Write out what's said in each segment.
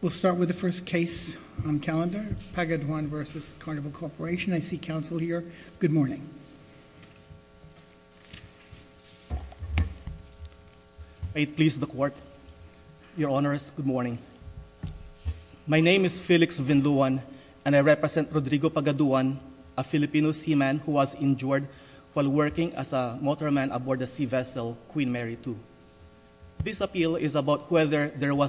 We'll start with the first case on calendar, Pagaduan v. Carnival Corporation. I see counsel here. Good morning. I please the court. Your Honor, good morning. My name is Felix Vinduan and I represent Rodrigo Pagaduan, a Filipino seaman who was injured while working as a motorman aboard the sea vessel Queen Mary 2. This is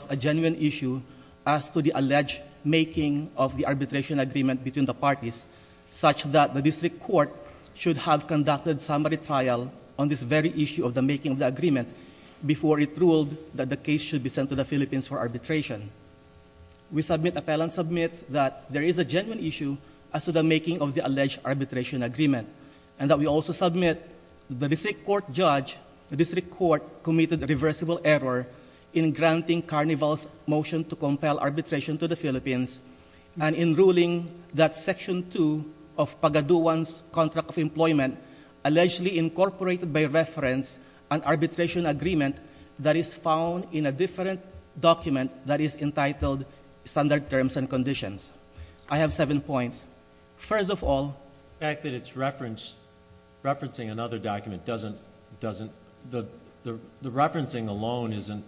a genuine issue as to the alleged making of the arbitration agreement between the parties such that the district court should have conducted summary trial on this very issue of the making of the agreement before it ruled that the case should be sent to the Philippines for arbitration. We submit appellant submits that there is a genuine issue as to the making of the alleged arbitration agreement and that we also submit the district court judge, the district court committed a reversible error in granting Carnival's motion to compel arbitration to the Philippines and in ruling that section 2 of Pagaduan's contract of employment allegedly incorporated by reference an arbitration agreement that is found in a different document that is entitled standard terms and conditions. I have seven points. First of all, the fact that it's referencing another document doesn't... the referencing alone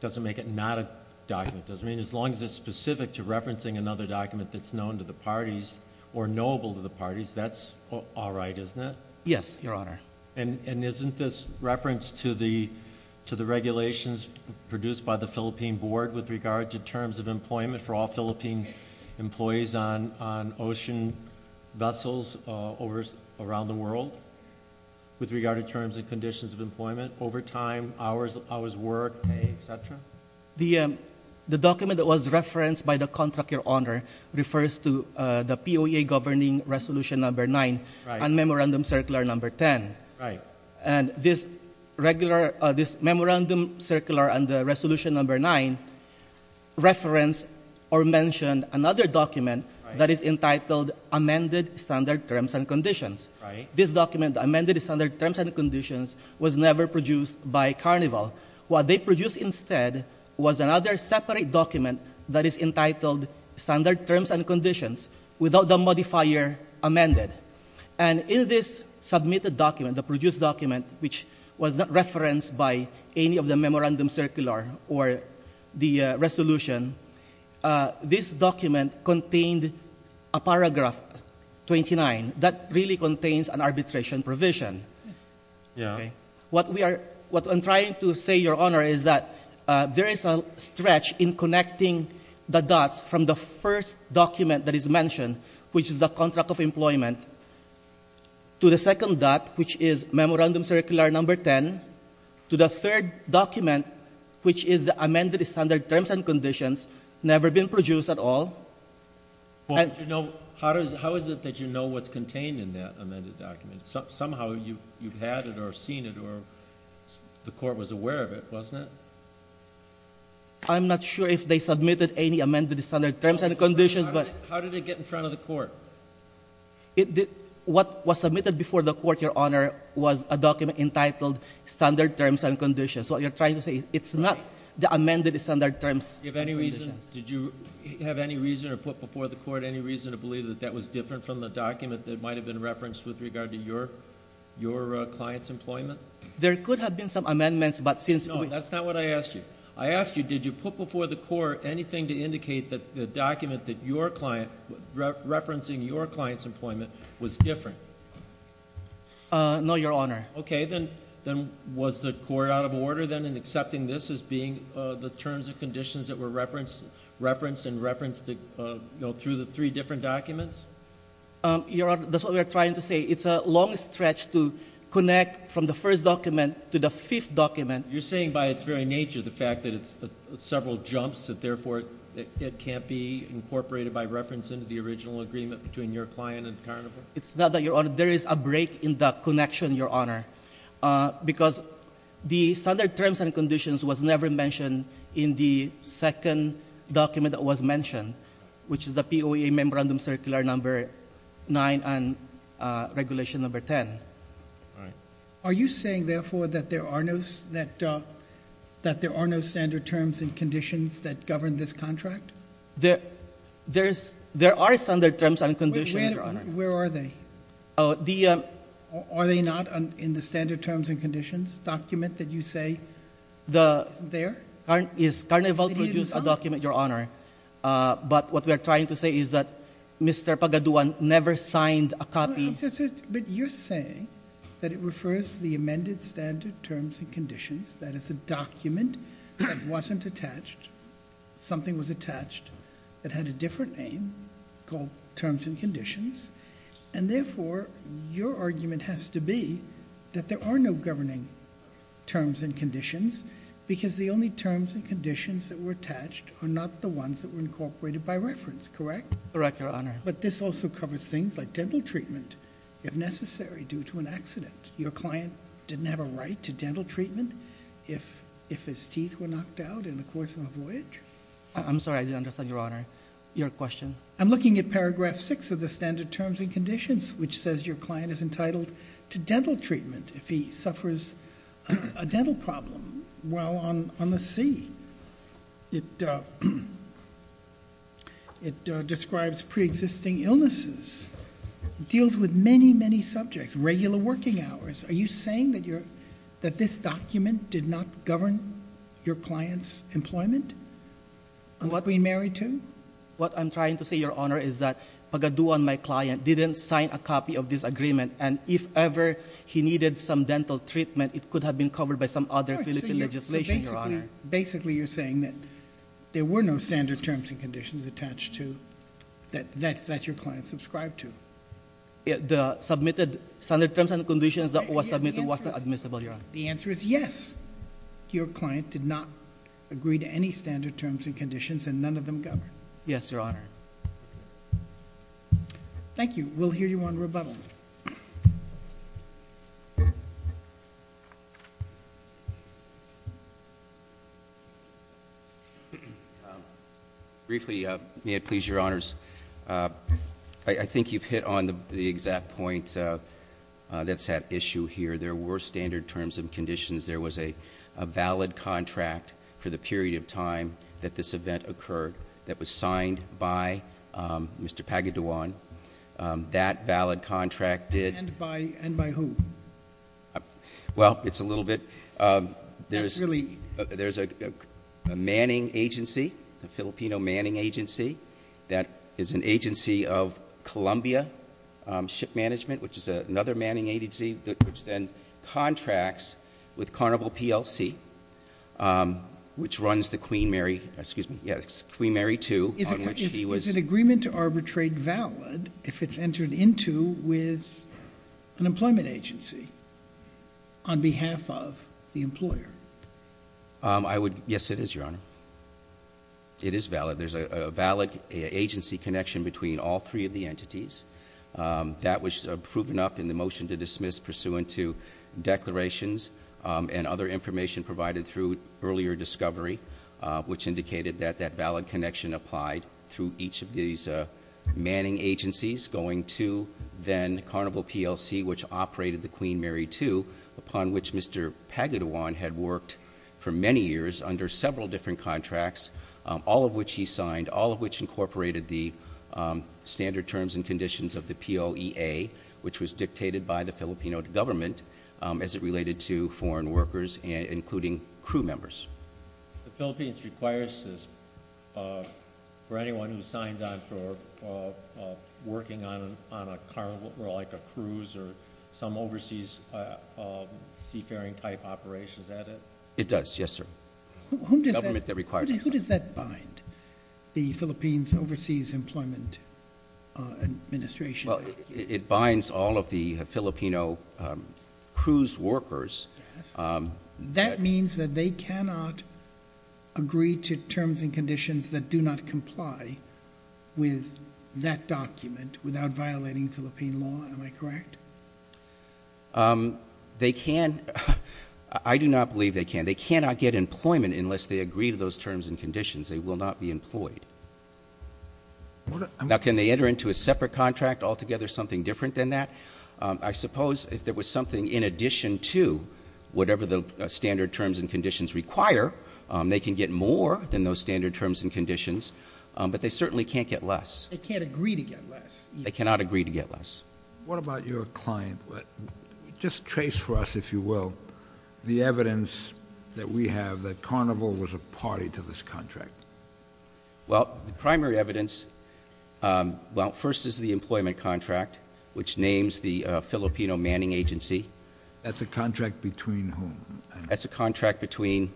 doesn't make it not a document. As long as it's specific to referencing another document that's known to the parties or knowable to the parties, that's all right, isn't it? Yes, Your Honor. Isn't this reference to the regulations produced by the Philippine Board with regard to terms of employment for all Philippine employees on ocean vessels around the world with regard to terms and conditions of employment, overtime, hours of work, pay, et cetera? The document that was referenced by the contract, Your Honor, refers to the POA governing Resolution Number 9 and Memorandum Circular Number 10. Right. And this Memorandum Circular and the Resolution Number 9 reference or standard terms and conditions. Right. This document, the amended standard terms and conditions, was never produced by Carnival. What they produced instead was another separate document that is entitled standard terms and conditions without the modifier amended. And in this submitted document, the produced document, which was not referenced by any of the Memorandum Circular or the Resolution, this document contained a section 29 that really contains an arbitration provision. Yes. Okay. Yeah. What I'm trying to say, Your Honor, is that there is a stretch in connecting the dots from the first document that is mentioned, which is the contract of employment, to the second dot, which is Memorandum Circular Number 10, to the third document, which is the amended standard terms and conditions, never been produced at all. Well, how is it that you know what's contained in that amended document? Somehow you've had it or seen it or the Court was aware of it, wasn't it? I'm not sure if they submitted any amended standard terms and conditions, but... How did it get in front of the Court? What was submitted before the Court, Your Honor, was a document entitled standard terms and conditions. What you're trying to say, it's not the amended standard terms and conditions. Did you have any reason or put before the Court any reason to believe that that was different from the document that might have been referenced with regard to your client's employment? There could have been some amendments, but since... No, that's not what I asked you. I asked you, did you put before the Court anything to indicate that the document referencing your client's employment was different? No, Your Honor. Okay. Then was the Court out of order then in accepting this as being the standard terms and conditions that were referenced and referenced through the three different documents? Your Honor, that's what we're trying to say. It's a long stretch to connect from the first document to the fifth document. You're saying by its very nature, the fact that it's several jumps, that therefore it can't be incorporated by reference into the original agreement between your client and Carnival? It's not that, Your Honor. There is a break in the connection, Your Honor, because the standard terms and conditions was never mentioned in the second document that was mentioned, which is the POEA Memorandum Circular Number 9 and Regulation Number 10. Are you saying, therefore, that there are no standard terms and conditions that govern this contract? There are standard terms and conditions, Your Honor. Where are they? Are they not in the standard terms and conditions document that you say isn't there? Yes, Carnival produced a document, Your Honor, but what we're trying to say is that Mr. Pagaduan never signed a copy. But you're saying that it refers to the amended standard terms and conditions, that it's a document that wasn't attached, something was attached, that had a connection, and therefore, your argument has to be that there are no governing terms and conditions because the only terms and conditions that were attached are not the ones that were incorporated by reference, correct? Correct, Your Honor. But this also covers things like dental treatment, if necessary, due to an accident. Your client didn't have a right to dental treatment if his teeth were knocked out in the course of a voyage? I'm sorry, I didn't understand, Your Honor. Your question? I'm looking at paragraph 6 of the standard terms and conditions, which says your client is entitled to dental treatment if he suffers a dental problem while on the sea. It describes preexisting illnesses. It deals with many, many subjects, regular working hours. Are you saying that this document did not govern your client's employment? What I'm trying to say, Your Honor, is that Pagaduan, my client, didn't sign a copy of this agreement, and if ever he needed some dental treatment, it could have been covered by some other Philippine legislation, Your Honor. Basically, you're saying that there were no standard terms and conditions attached to, that your client subscribed to. The submitted standard terms and conditions that was submitted was not admissible, Your Honor. The answer is yes. Your client did not agree to any standard terms and conditions, and none of them govern. Yes, Your Honor. Thank you. We'll hear you on rebuttal. Briefly, may it please Your Honors, I think you've hit on the exact point that's at issue here. There were standard terms and conditions. There was a valid contract for the period of time that this event occurred that was signed by Mr. Pagaduan. That valid contract did. And by whom? Well, it's a little bit. There's a manning agency, a Filipino manning agency, that is an agency of Columbia Ship Management, which is another manning agency which then contracts with Carnival PLC, which runs the Queen Mary, excuse me, yes, Queen Mary II, on which he was. Is an agreement to arbitrate valid if it's entered into with an employment agency on behalf of the employer? Yes, it is, Your Honor. It is valid. There's a valid agency connection between all three of the entities. That was proven up in the motion to dismiss pursuant to declarations and other information provided through earlier discovery, which indicated that that valid connection applied through each of these manning agencies going to then Carnival PLC, which operated the Queen Mary II, upon which Mr. Pagaduan had worked for many years under several different contracts, all of which he signed, all of which incorporated the standard terms and conditions of the POEA, which was dictated by the Filipino government as it related to foreign workers, including crew members. The Philippines requires this for anyone who signs on for working on a cruise or some overseas seafaring-type operation. Is that it? It does, yes, sir. Who does that bind, the Philippines Overseas Employment Administration? Well, it binds all of the Filipino cruise workers. That means that they cannot agree to terms and conditions that do not comply with that document without violating Philippine law. Am I correct? They can't. I do not believe they can. They cannot get employment unless they agree to those terms and conditions. They will not be employed. Now, can they enter into a separate contract, altogether something different than that? I suppose if there was something in addition to whatever the standard terms and conditions require, they can get more than those standard terms and conditions, but they certainly can't get less. They can't agree to get less. They cannot agree to get less. What about your client? Just trace for us, if you will, the evidence that we have that Carnival was a party to this contract. Well, the primary evidence, well, first is the employment contract, which names the Filipino Manning Agency. That's a contract between whom? That's a contract between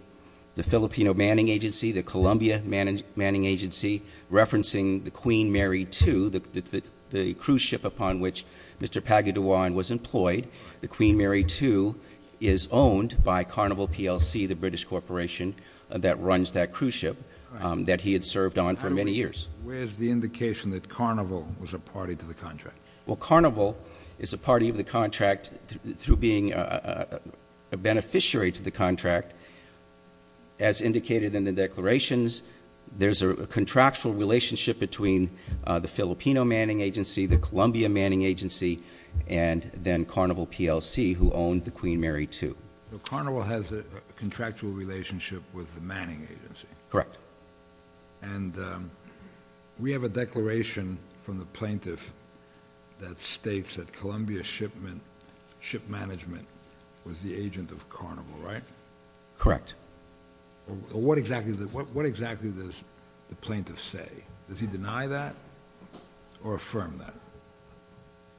the Filipino Manning Agency, the Columbia Manning Agency, referencing the Queen Mary II, the cruise ship upon which Mr. Pagaduan was employed. The Queen Mary II is owned by Carnival PLC, the British corporation that runs that cruise ship that he had served on for many years. Where is the indication that Carnival was a party to the contract? Well, Carnival is a party of the contract through being a beneficiary to the contract. As indicated in the declarations, there's a contractual relationship between the Filipino Manning Agency, the Columbia Manning Agency, and then Carnival PLC, who owned the Queen Mary II. So Carnival has a contractual relationship with the Manning Agency? Correct. And we have a declaration from the plaintiff that states that Columbia Ship Management was the agent of Carnival, right? Correct. What exactly does the plaintiff say? Does he deny that or affirm that?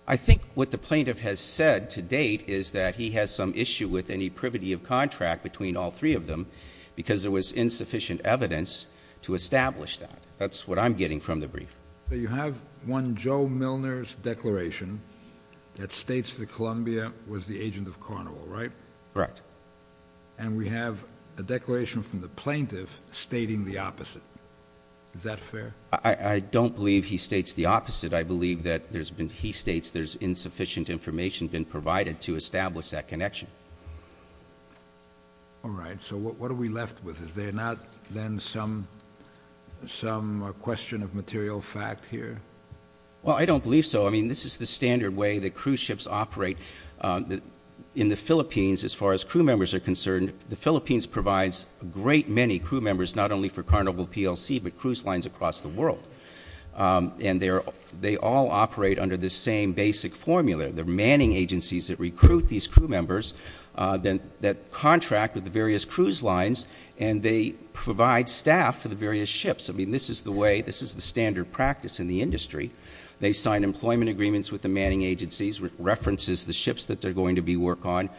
I think what the plaintiff has said to date is that he has some issue with any privity of contract between all three of them because there was insufficient evidence to establish that. That's what I'm getting from the brief. You have one Joe Milner's declaration that states that Columbia was the agent of Carnival, right? Correct. And we have a declaration from the plaintiff stating the opposite. Is that fair? I don't believe he states the opposite. I believe that he states there's insufficient information been provided to establish that connection. All right. So what are we left with? Is there not then some question of material fact here? Well, I don't believe so. I mean, this is the standard way that cruise ships operate in the Philippines as far as crew members are concerned. The Philippines provides a great many crew members not only for Carnival PLC but cruise lines across the world. And they all operate under the same basic formula. They're manning agencies that recruit these crew members that contract with the various cruise lines, and they provide staff for the various ships. I mean, this is the way, this is the standard practice in the industry. They sign employment agreements with the manning agencies, which references the ships that they're going to be working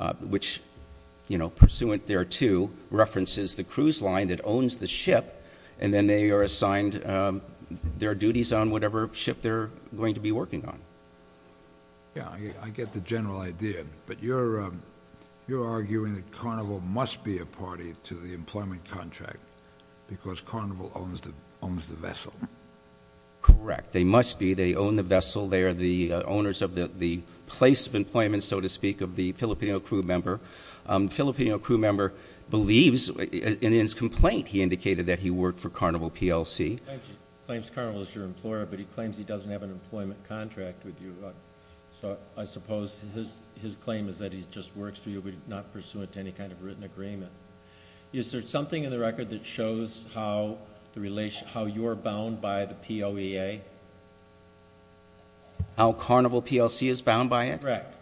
on, which, you know, pursuant thereto, references the cruise line that owns the ship, and then they are assigned their duties on whatever ship they're going to be working on. Yeah, I get the general idea. But you're arguing that Carnival must be a party to the employment contract because Carnival owns the vessel. Correct. They must be. They own the vessel. They are the owners of the place of employment, so to speak, of the Filipino crew member. The Filipino crew member believes in his complaint he indicated that he worked for Carnival PLC. He claims Carnival is your employer, but he claims he doesn't have an employment contract with you. So I suppose his claim is that he just works for you but is not pursuant to any kind of written agreement. Is there something in the record that shows how you're bound by the POEA? How Carnival PLC is bound by it? Correct.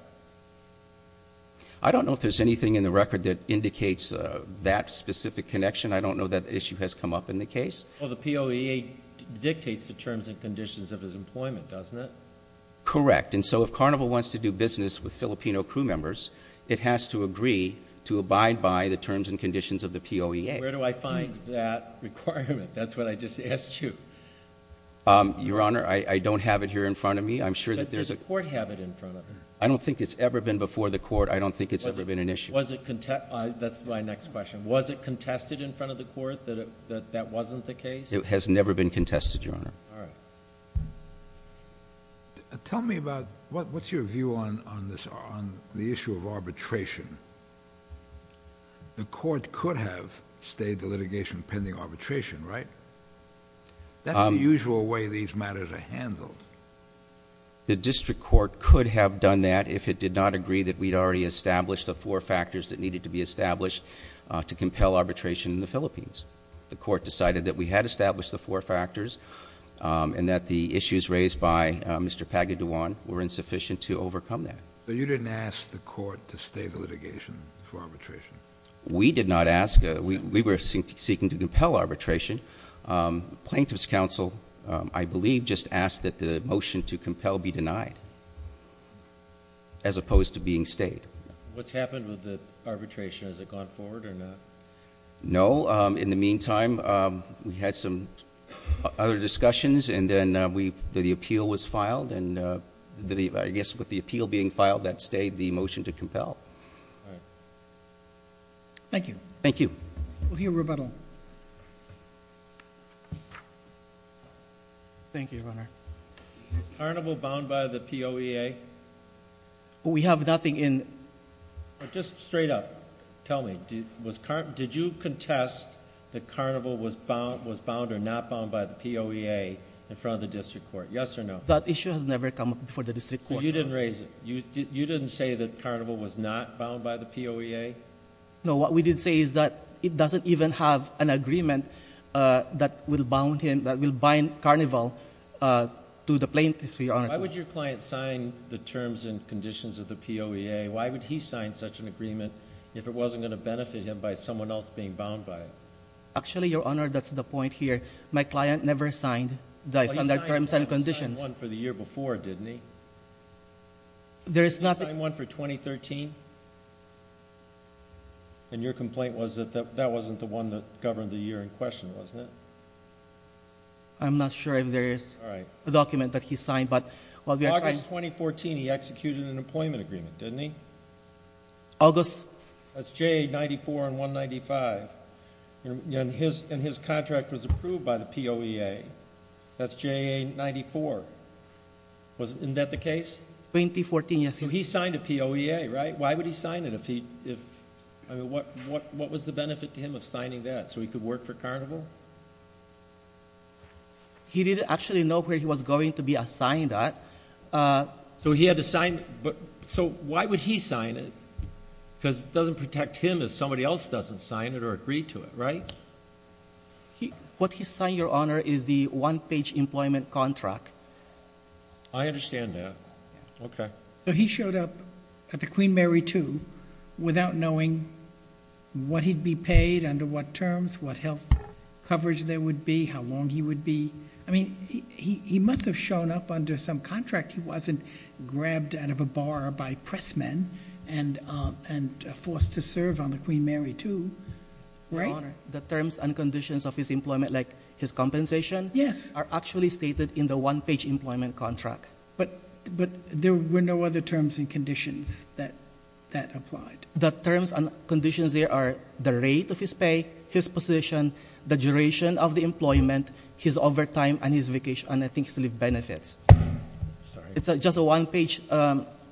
I don't know if there's anything in the record that indicates that specific connection. I don't know that issue has come up in the case. Well, the POEA dictates the terms and conditions of his employment, doesn't it? Correct. And so if Carnival wants to do business with Filipino crew members, it has to agree to abide by the terms and conditions of the POEA. Where do I find that requirement? That's what I just asked you. Your Honor, I don't have it here in front of me. Does the court have it in front of them? I don't think it's ever been before the court. I don't think it's ever been an issue. That's my next question. Was it contested in front of the court that that wasn't the case? It has never been contested, Your Honor. All right. Tell me about what's your view on the issue of arbitration? The court could have stayed the litigation pending arbitration, right? That's the usual way these matters are handled. The district court could have done that if it did not agree that we'd already established the four factors that needed to be established to compel arbitration in the Philippines. The court decided that we had established the four factors and that the issues raised by Mr. Pagaduan were insufficient to overcome that. But you didn't ask the court to stay the litigation for arbitration? We did not ask. We were seeking to compel arbitration. Plaintiff's counsel, I believe, just asked that the motion to compel be denied as opposed to being stayed. What's happened with the arbitration? Has it gone forward or not? No. In the meantime, we had some other discussions, and then the appeal was filed. And I guess with the appeal being filed, that stayed the motion to compel. All right. Thank you. Thank you. We'll hear rebuttal. Thank you, Your Honor. Is Carnival bound by the POEA? We have nothing in. Just straight up, tell me, did you contest that Carnival was bound or not bound by the POEA in front of the district court? Yes or no? That issue has never come up before the district court. So you didn't raise it? You didn't say that Carnival was not bound by the POEA? No. What we did say is that it doesn't even have an agreement that will bind Carnival to the plaintiff, Your Honor. Why would your client sign the terms and conditions of the POEA? Why would he sign such an agreement if it wasn't going to benefit him by someone else being bound by it? Actually, Your Honor, that's the point here. My client never signed those terms and conditions. He signed one for the year before, didn't he? There is nothing. He signed one for 2013? And your complaint was that that wasn't the one that governed the year in question, wasn't it? I'm not sure if there is a document that he signed. In August 2014, he executed an employment agreement, didn't he? August? That's JA94 and 195. And his contract was approved by the POEA. That's JA94. Isn't that the case? 2014, yes. So he signed a POEA, right? Why would he sign it? What was the benefit to him of signing that, so he could work for Carnival? He didn't actually know where he was going to be assigned at. So he had to sign. So why would he sign it? Because it doesn't protect him if somebody else doesn't sign it or agree to it, right? What he signed, Your Honor, is the one-page employment contract. I understand that. Okay. So he showed up at the Queen Mary II without knowing what he'd be paid, under what terms, what health coverage there would be, how long he would be. I mean, he must have shown up under some contract. He wasn't grabbed out of a bar by pressmen and forced to serve on the Queen Mary II, right? Your Honor, the terms and conditions of his employment, like his compensation, are actually stated in the one-page employment contract. But there were no other terms and conditions that applied. The terms and conditions there are the rate of his pay, his position, the duration of the employment, his overtime and his vacation, and I think his leave benefits. Sorry. It's just a one-page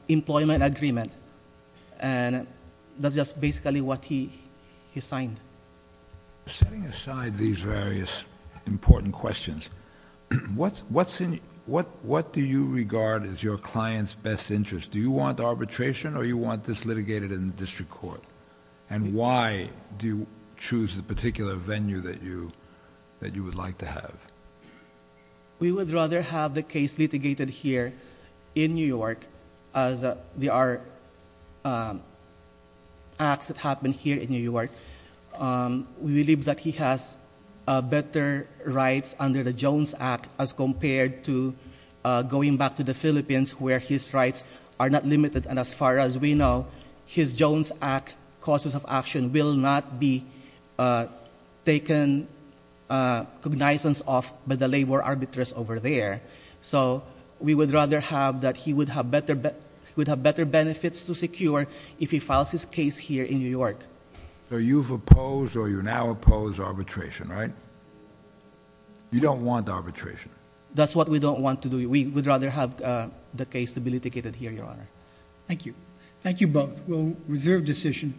employment agreement. And that's just basically what he signed. Setting aside these various important questions, what do you regard as your client's best interest? Do you want arbitration or do you want this litigated in the district court? And why do you choose the particular venue that you would like to have? We would rather have the case litigated here in New York as there are acts that happen here in New York. We believe that he has better rights under the Jones Act as compared to going back to the Philippines where his rights are not limited. And as far as we know, his Jones Act causes of action will not be taken cognizance of by the labor arbiters over there. So we would rather have that he would have better benefits to secure if he files his case here in New York. So you've opposed or you now oppose arbitration, right? You don't want arbitration. That's what we don't want to do. We would rather have the case to be litigated here, Your Honor. Thank you. Thank you both. We'll reserve decision.